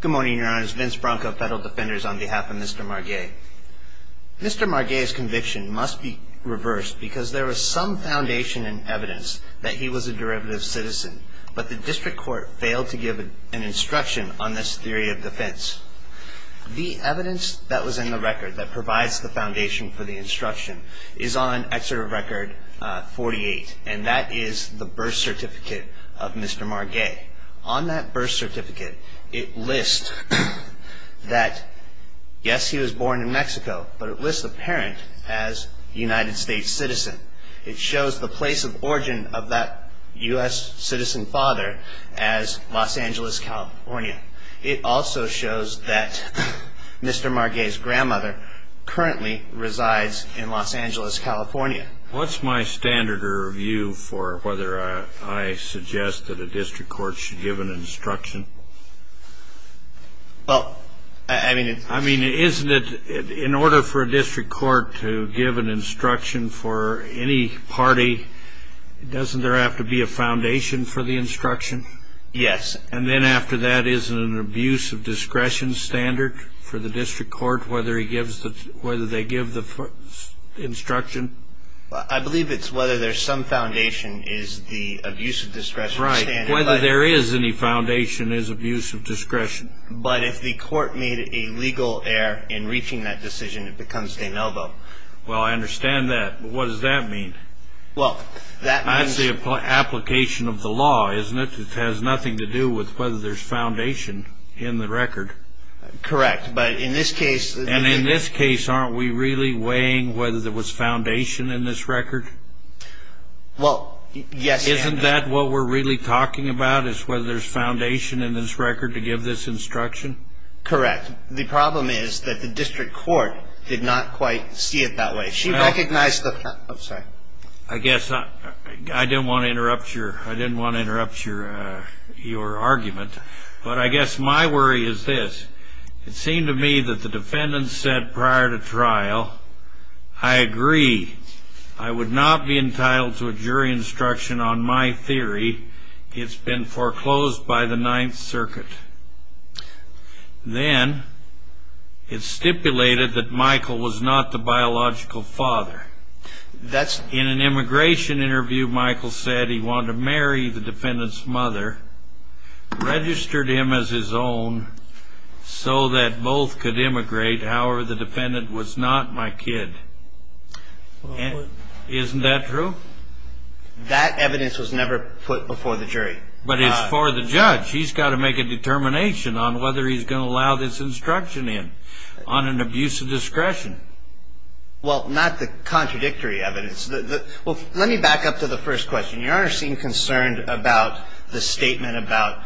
Good morning, your honors. Vince Bronco, Federal Defenders, on behalf of Mr. Marguet. Mr. Marguet's conviction must be reversed because there was some foundation in evidence that he was a derivative citizen, but the district court failed to give an instruction on this theory of defense. The evidence that was in the record that provides the foundation for the instruction is on Excerpt Record 48, and that is the birth certificate of Mr. Marguet. On that birth certificate, it lists that, yes, he was born in Mexico, but it lists the parent as a United States citizen. It shows the place of origin of that U.S. citizen father as Los Angeles, California. It also shows that Mr. Marguet's grandmother currently resides in Los Angeles, California. What's my standard of review for whether I suggest that a district court should give an instruction? Well, I mean, it's... I mean, isn't it, in order for a district court to give an instruction for any party, doesn't there have to be a foundation for the instruction? Yes. And then after that, isn't an abuse of discretion standard for the district court, whether they give the instruction? I believe it's whether there's some foundation is the abuse of discretion standard. Right. Whether there is any foundation is abuse of discretion. But if the court made a legal error in reaching that decision, it becomes de novo. Well, I understand that, but what does that mean? Well, that means... That's the application of the law, isn't it? It has nothing to do with whether there's foundation in the record. Correct. But in this case... And in this case, aren't we really weighing whether there was foundation in this record? Well, yes. Isn't that what we're really talking about, is whether there's foundation in this record to give this instruction? Correct. The problem is that the district court did not quite see it that way. She recognized the... I guess I didn't want to interrupt your argument, but I guess my worry is this. It seemed to me that the defendant said prior to trial, I agree, I would not be entitled to a jury instruction on my theory. It's been foreclosed by the Ninth Circuit. Then it's stipulated that Michael was not the biological father. That's... In an immigration interview, Michael said he wanted to marry the defendant's mother, registered him as his own so that both could immigrate. However, the defendant was not my kid. Isn't that true? That evidence was never put before the jury. But it's for the judge. He's got to make a determination on whether he's going to allow this instruction in on an abuse of discretion. Well, not the contradictory evidence. Well, let me back up to the first question. Your Honor seemed concerned about the statement about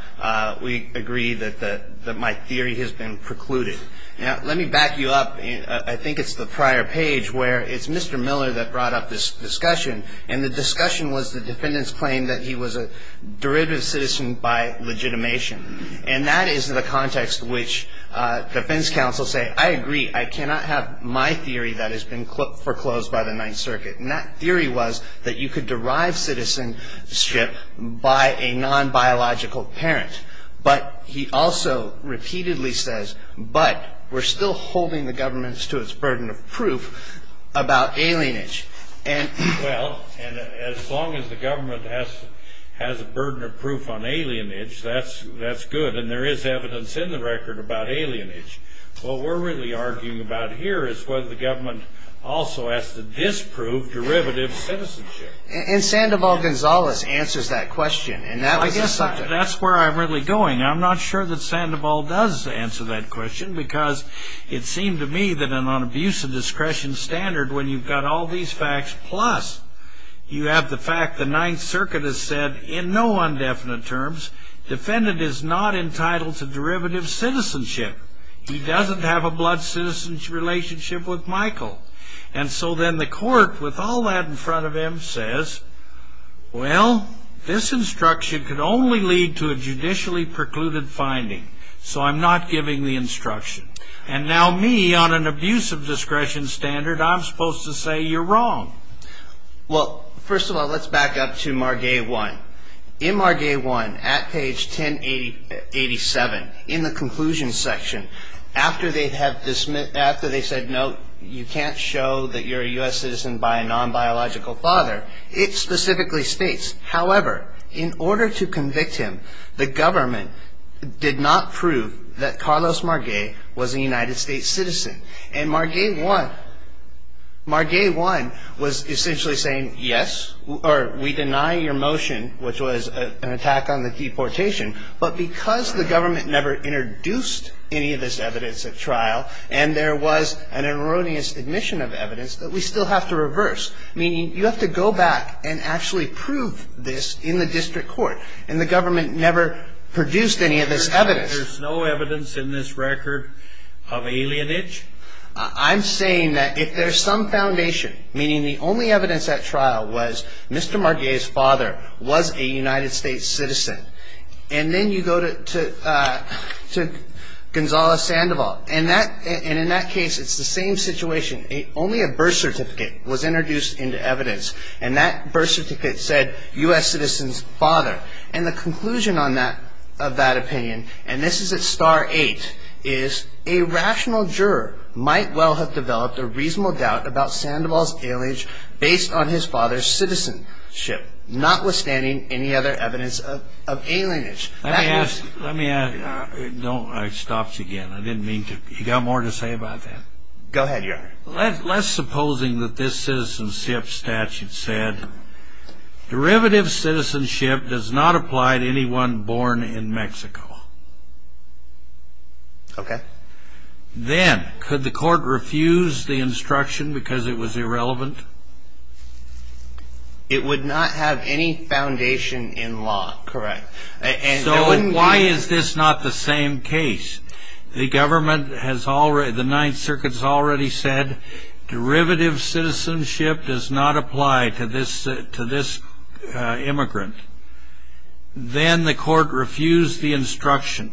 we agree that my theory has been precluded. Now, let me back you up. I think it's the prior page where it's Mr. Miller that brought up this discussion, and the discussion was the defendant's claim that he was a derivative citizen by legitimation. And that is the context which defense counsel say, I agree, I cannot have my theory that has been foreclosed by the Ninth Circuit. And that theory was that you could derive citizenship by a non-biological parent. But he also repeatedly says, but we're still holding the government to its burden of proof about alienage. Well, and as long as the government has a burden of proof on alienage, that's good. And there is evidence in the record about alienage. What we're really arguing about here is whether the government also has to disprove derivative citizenship. And Sandoval-Gonzalez answers that question. That's where I'm really going. I'm not sure that Sandoval does answer that question, because it seemed to me that on an abuse of discretion standard, when you've got all these facts, plus you have the fact the Ninth Circuit has said in no undefinite terms, defendant is not entitled to derivative citizenship. He doesn't have a blood citizenship relationship with Michael. And so then the court, with all that in front of him, says, well, this instruction could only lead to a judicially precluded finding. So I'm not giving the instruction. And now me, on an abuse of discretion standard, I'm supposed to say you're wrong. Well, first of all, let's back up to Margay 1. In Margay 1, at page 1087, in the conclusion section, after they said, no, you can't show that you're a U.S. citizen by a non-biological father, it specifically states, however, in order to convict him, the government did not prove that Carlos Margay was a United States citizen. And Margay 1 was essentially saying, yes, or we deny your motion, which was an attack on the deportation, but because the government never introduced any of this evidence at trial, and there was an erroneous admission of evidence, that we still have to reverse, meaning you have to go back and actually prove this in the district court, and the government never produced any of this evidence. There's no evidence in this record of alienage? I'm saying that if there's some foundation, meaning the only evidence at trial was Mr. Margay's father was a United States citizen, and then you go to Gonzalo Sandoval, and in that case, it's the same situation. Only a birth certificate was introduced into evidence, and that birth certificate said U.S. citizen's father. And the conclusion on that, of that opinion, and this is at star 8, is a rational juror might well have developed a reasonable doubt about Sandoval's alienage based on his father's citizenship, notwithstanding any other evidence of alienage. Let me ask, let me ask, no, it stops again. I didn't mean to. You got more to say about that? Go ahead, Your Honor. Less supposing that this citizenship statute said, derivative citizenship does not apply to anyone born in Mexico. Okay. Then, could the court refuse the instruction because it was irrelevant? It would not have any foundation in law. Correct. So why is this not the same case? The government has already, the Ninth Circuit has already said, derivative citizenship does not apply to this immigrant. Then the court refused the instruction,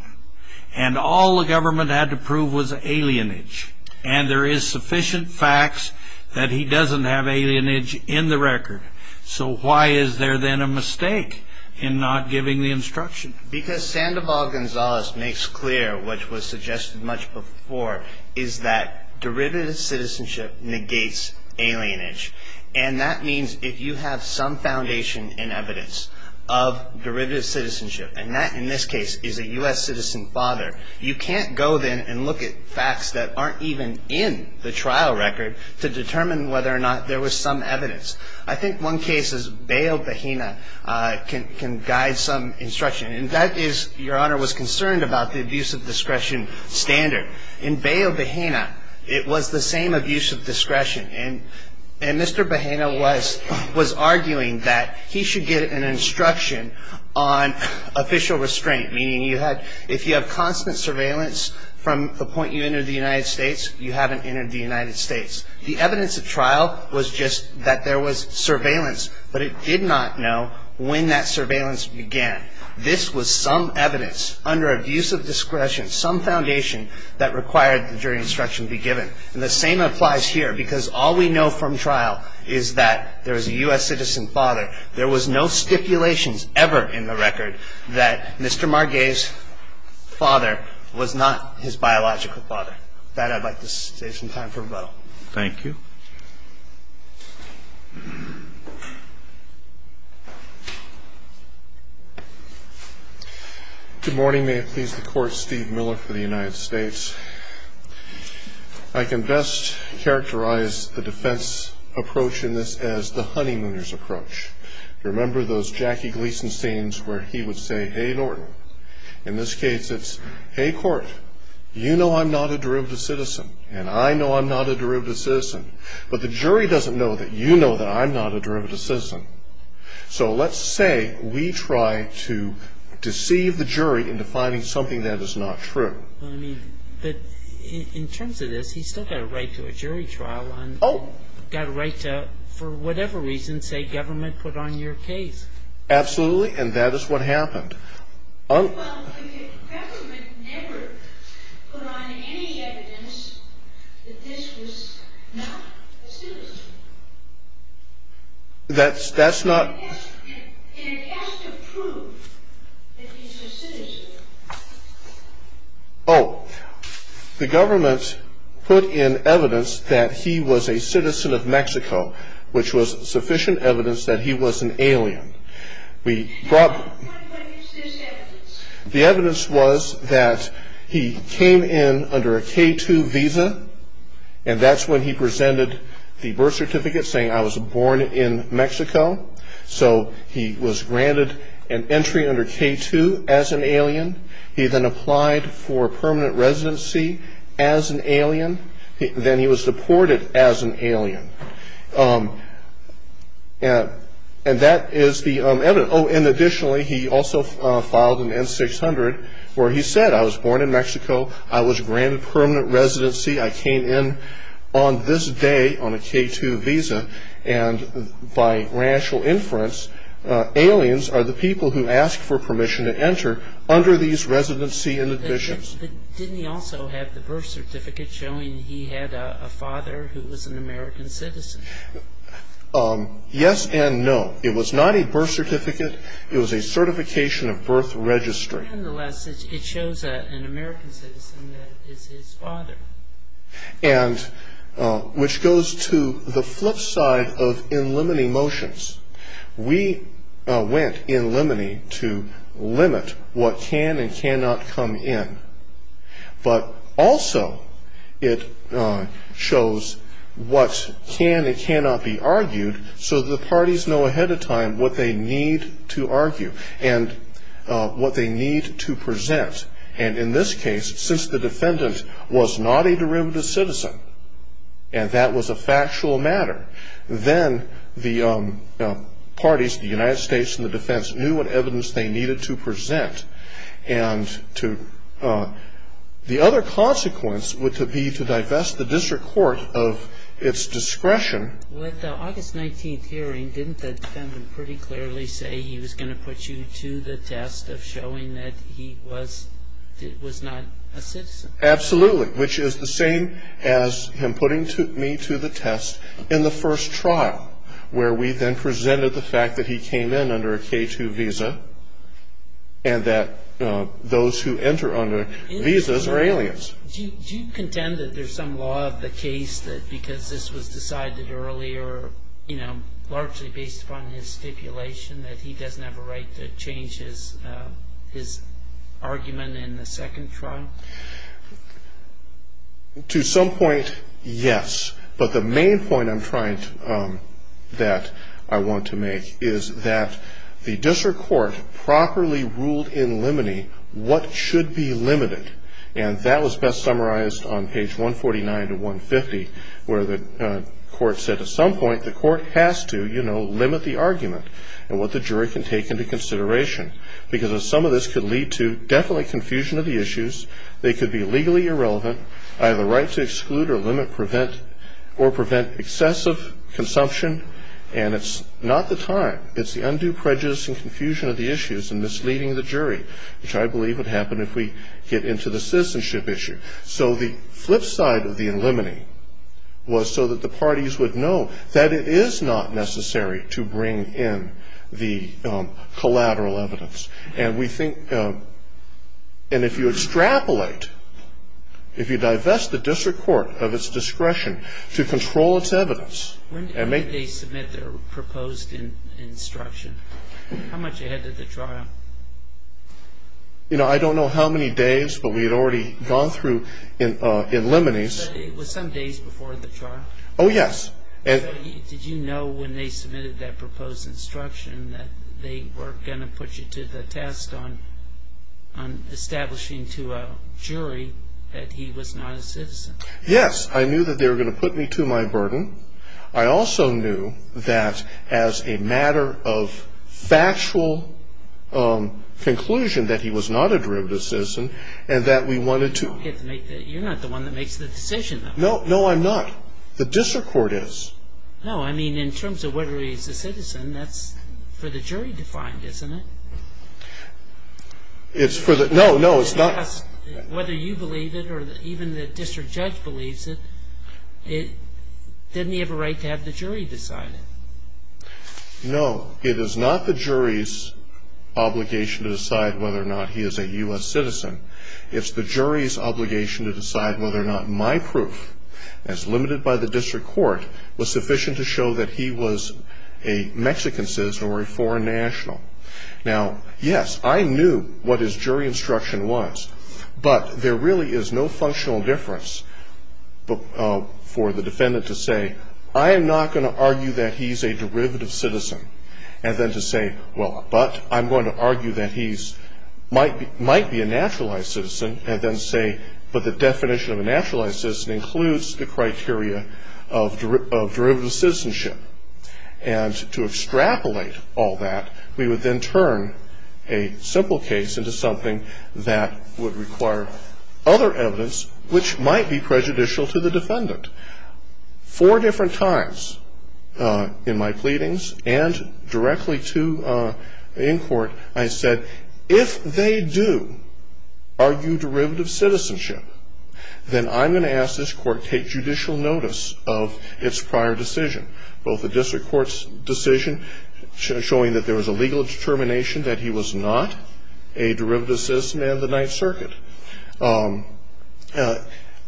and all the government had to prove was alienage. And there is sufficient facts that he doesn't have alienage in the record. So why is there then a mistake in not giving the instruction? Because Sandoval Gonzalez makes clear, which was suggested much before, is that derivative citizenship negates alienage. And that means if you have some foundation in evidence of derivative citizenship, and that in this case is a U.S. citizen father, you can't go then and look at facts that aren't even in the trial record to determine whether or not there was some evidence. I think one case is Bayo Bahena can guide some instruction. And that is, Your Honor, was concerned about the abuse of discretion standard. In Bayo Bahena, it was the same abuse of discretion. And Mr. Bahena was arguing that he should get an instruction on official restraint, meaning if you have constant surveillance from the point you enter the United States, you haven't entered the United States. The evidence of trial was just that there was surveillance, but it did not know when that surveillance began. This was some evidence under abuse of discretion, some foundation that required the jury instruction be given. And the same applies here because all we know from trial is that there is a U.S. citizen father. There was no stipulations ever in the record that Mr. Margay's father was not his biological father. With that, I'd like to save some time for a vote. Thank you. Good morning. May it please the Court. Steve Miller for the United States. I can best characterize the defense approach in this as the honeymooner's approach. Remember those Jackie Gleason scenes where he would say, hey, Norton. In this case, it's, hey, Court, you know I'm not a derivative citizen, and I know I'm not a derivative citizen, but the jury doesn't know that you know that I'm not a derivative citizen. So let's say we try to deceive the jury into finding something that is not true. I mean, but in terms of this, he's still got a right to a jury trial. Oh. Got a right to, for whatever reason, say government put on your case. Absolutely, and that is what happened. Well, the government never put on any evidence that this was not a citizen. That's not. And it has to prove that he's a citizen. Oh. The government put in evidence that he was a citizen of Mexico, which was sufficient evidence that he was an alien. The evidence was that he came in under a K-2 visa, and that's when he presented the birth certificate saying I was born in Mexico. So he was granted an entry under K-2 as an alien. He then applied for permanent residency as an alien. Then he was deported as an alien. And that is the evidence. Oh, and additionally, he also filed an N-600 where he said I was born in Mexico. I was granted permanent residency. I came in on this day on a K-2 visa, and by rational inference, aliens are the people who ask for permission to enter under these residency inhibitions. But didn't he also have the birth certificate showing he had a father who was an American citizen? Yes and no. It was not a birth certificate. It was a certification of birth registry. Nonetheless, it shows an American citizen that is his father. And which goes to the flip side of in limine motions. We went in limine to limit what can and cannot come in. But also it shows what can and cannot be argued so that the parties know ahead of time what they need to argue and what they need to present. And in this case, since the defendant was not a derivative citizen, and that was a factual matter, then the parties, the United States and the defense, knew what evidence they needed to present. And the other consequence would be to divest the district court of its discretion. With the August 19th hearing, didn't the defendant pretty clearly say he was going to put you to the test of showing that he was not a citizen? Absolutely, which is the same as him putting me to the test in the first trial, where we then presented the fact that he came in under a K-2 visa and that those who enter under visas are aliens. Do you contend that there's some law of the case that because this was decided earlier, largely based upon his stipulation, that he doesn't have a right to change his argument in the second trial? To some point, yes. But the main point that I want to make is that the district court properly ruled in limine what should be limited. And that was best summarized on page 149 to 150, where the court said at some point, the court has to, you know, limit the argument and what the jury can take into consideration, because some of this could lead to definite confusion of the issues. They could be legally irrelevant, either right to exclude or limit or prevent excessive consumption. And it's not the time. It's the undue prejudice and confusion of the issues and misleading the jury, which I believe would happen if we get into the citizenship issue. So the flip side of the limiting was so that the parties would know that it is not necessary to bring in the collateral evidence. And we think – and if you extrapolate, if you divest the district court of its discretion to control its evidence. When did they submit their proposed instruction? How much ahead of the trial? You know, I don't know how many days, but we had already gone through in limine. It was some days before the trial. Oh, yes. Did you know when they submitted that proposed instruction that they were going to put you to the test on establishing to a jury that he was not a citizen? Yes. I knew that they were going to put me to my burden. I also knew that as a matter of factual conclusion that he was not a derivative citizen and that we wanted to – You're not the one that makes the decision, though. No, no, I'm not. The district court is. No, I mean, in terms of whether he's a citizen, that's for the jury to find, isn't it? It's for the – no, no, it's not – Whether you believe it or even the district judge believes it, didn't he have a right to have the jury decide it? No, it is not the jury's obligation to decide whether or not he is a U.S. citizen. It's the jury's obligation to decide whether or not my proof, as limited by the district court, was sufficient to show that he was a Mexican citizen or a foreign national. Now, yes, I knew what his jury instruction was, but there really is no functional difference for the defendant to say, I am not going to argue that he's a derivative citizen and then to say, well, but I'm going to argue that he might be a naturalized citizen and then say, but the definition of a naturalized citizen includes the criteria of derivative citizenship. And to extrapolate all that, we would then turn a simple case into something that would require other evidence, which might be prejudicial to the defendant. Four different times in my pleadings and directly to in court, I said, if they do argue derivative citizenship, then I'm going to ask this court to take judicial notice of its prior decision, both the district court's decision showing that there was a legal determination that he was not a derivative citizen and the Ninth Circuit.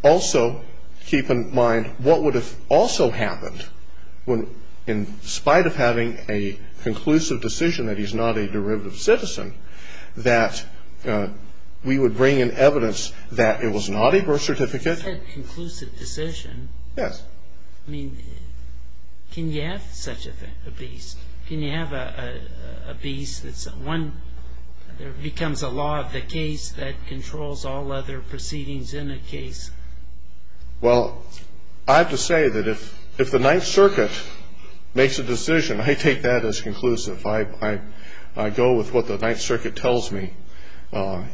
Also, keep in mind, what would have also happened when, in spite of having a conclusive decision that he's not a derivative citizen, that we would bring in evidence that it was not a birth certificate. You said conclusive decision. Yes. I mean, can you have such a beast? Can you have a beast that's one that becomes a law of the case that controls all other proceedings in a case? Well, I have to say that if the Ninth Circuit makes a decision, I take that as conclusive. If I go with what the Ninth Circuit tells me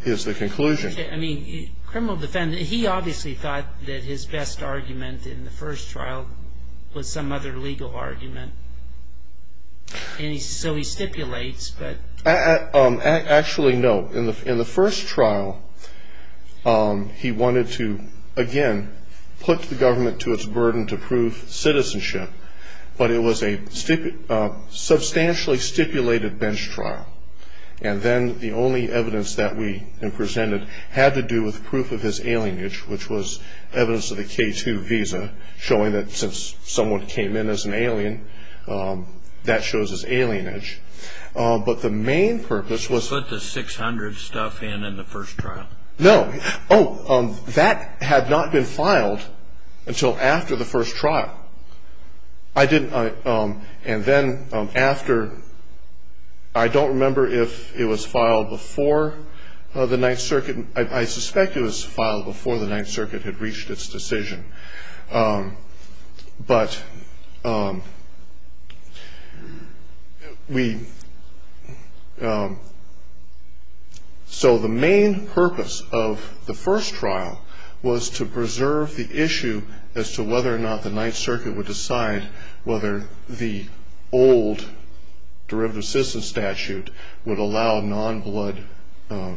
is the conclusion. Okay. I mean, criminal defendant, he obviously thought that his best argument in the first trial was some other legal argument, and so he stipulates, but... Actually, no. In the first trial, he wanted to, again, put the government to its burden to prove citizenship, but it was a substantially stipulated bench trial, and then the only evidence that we presented had to do with proof of his alienage, which was evidence of the K-2 visa showing that since someone came in as an alien, that shows his alienage. But the main purpose was... Put the 600 stuff in in the first trial. No. Oh, that had not been filed until after the first trial. I didn't... And then after... I don't remember if it was filed before the Ninth Circuit. I suspect it was filed before the Ninth Circuit had reached its decision. But we... So the main purpose of the first trial was to preserve the issue as to whether or not the Ninth Circuit would decide whether the old derivative citizen statute would allow non-blood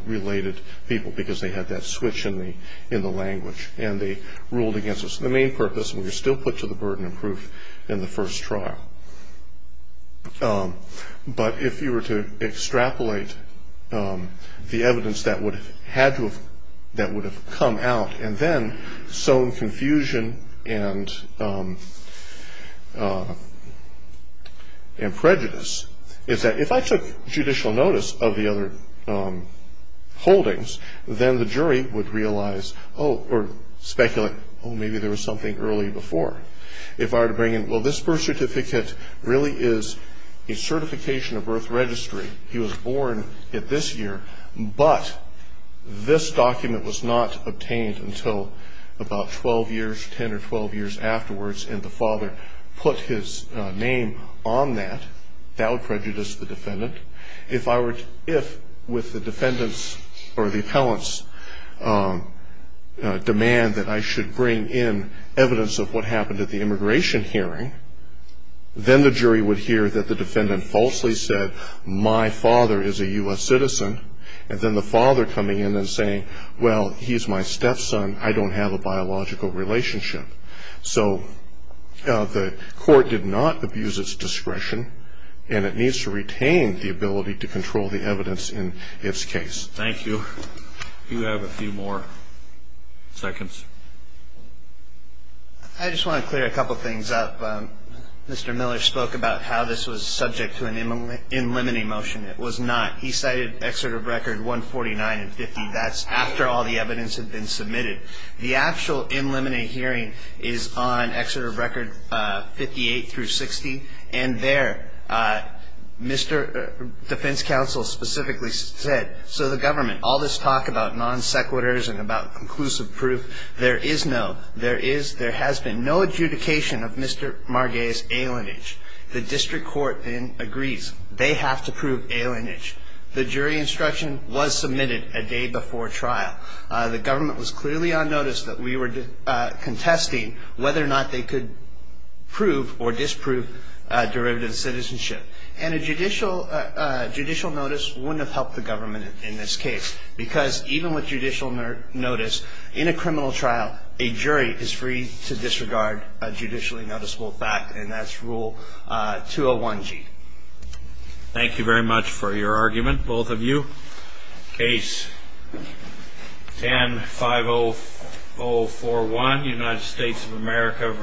related people, because they had that switch in the language, and they ruled against it. So the main purpose, and we were still put to the burden of proof in the first trial. But if you were to extrapolate the evidence that would have had to have, that would have come out, and then sown confusion and prejudice, is that if I took judicial notice of the other holdings, then the jury would realize, oh, or speculate, oh, maybe there was something early before. If I were to bring in, well, this birth certificate really is a certification of birth registry. He was born this year, but this document was not obtained until about 12 years, 10 or 12 years afterwards, and the father put his name on that. That would prejudice the defendant. If with the defendant's or the appellant's demand that I should bring in evidence of what happened at the immigration hearing, then the jury would hear that the defendant falsely said, my father is a U.S. citizen, and then the father coming in and saying, well, he's my stepson, I don't have a biological relationship. So the court did not abuse its discretion, and it needs to retain the ability to control the evidence in its case. Thank you. You have a few more seconds. I just want to clear a couple things up. Mr. Miller spoke about how this was subject to an in limine motion. It was not. He cited excerpt of record 149 and 50. That's after all the evidence had been submitted. The actual in limine hearing is on excerpt of record 58 through 60, and there Mr. Defense Counsel specifically said, so the government, all this talk about non sequiturs and about conclusive proof, there is no, there is, there has been no adjudication of Mr. Marguez's alienage. The district court then agrees. They have to prove alienage. The jury instruction was submitted a day before trial. The government was clearly on notice that we were contesting whether or not they could prove or disprove derivative citizenship. And a judicial notice wouldn't have helped the government in this case, because even with judicial notice in a criminal trial, a jury is free to disregard a judicially noticeable fact, and that's Rule 201G. Thank you very much for your argument, both of you. Case? 10-5041, United States of America v.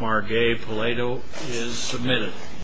Marguez-Paleto is submitted.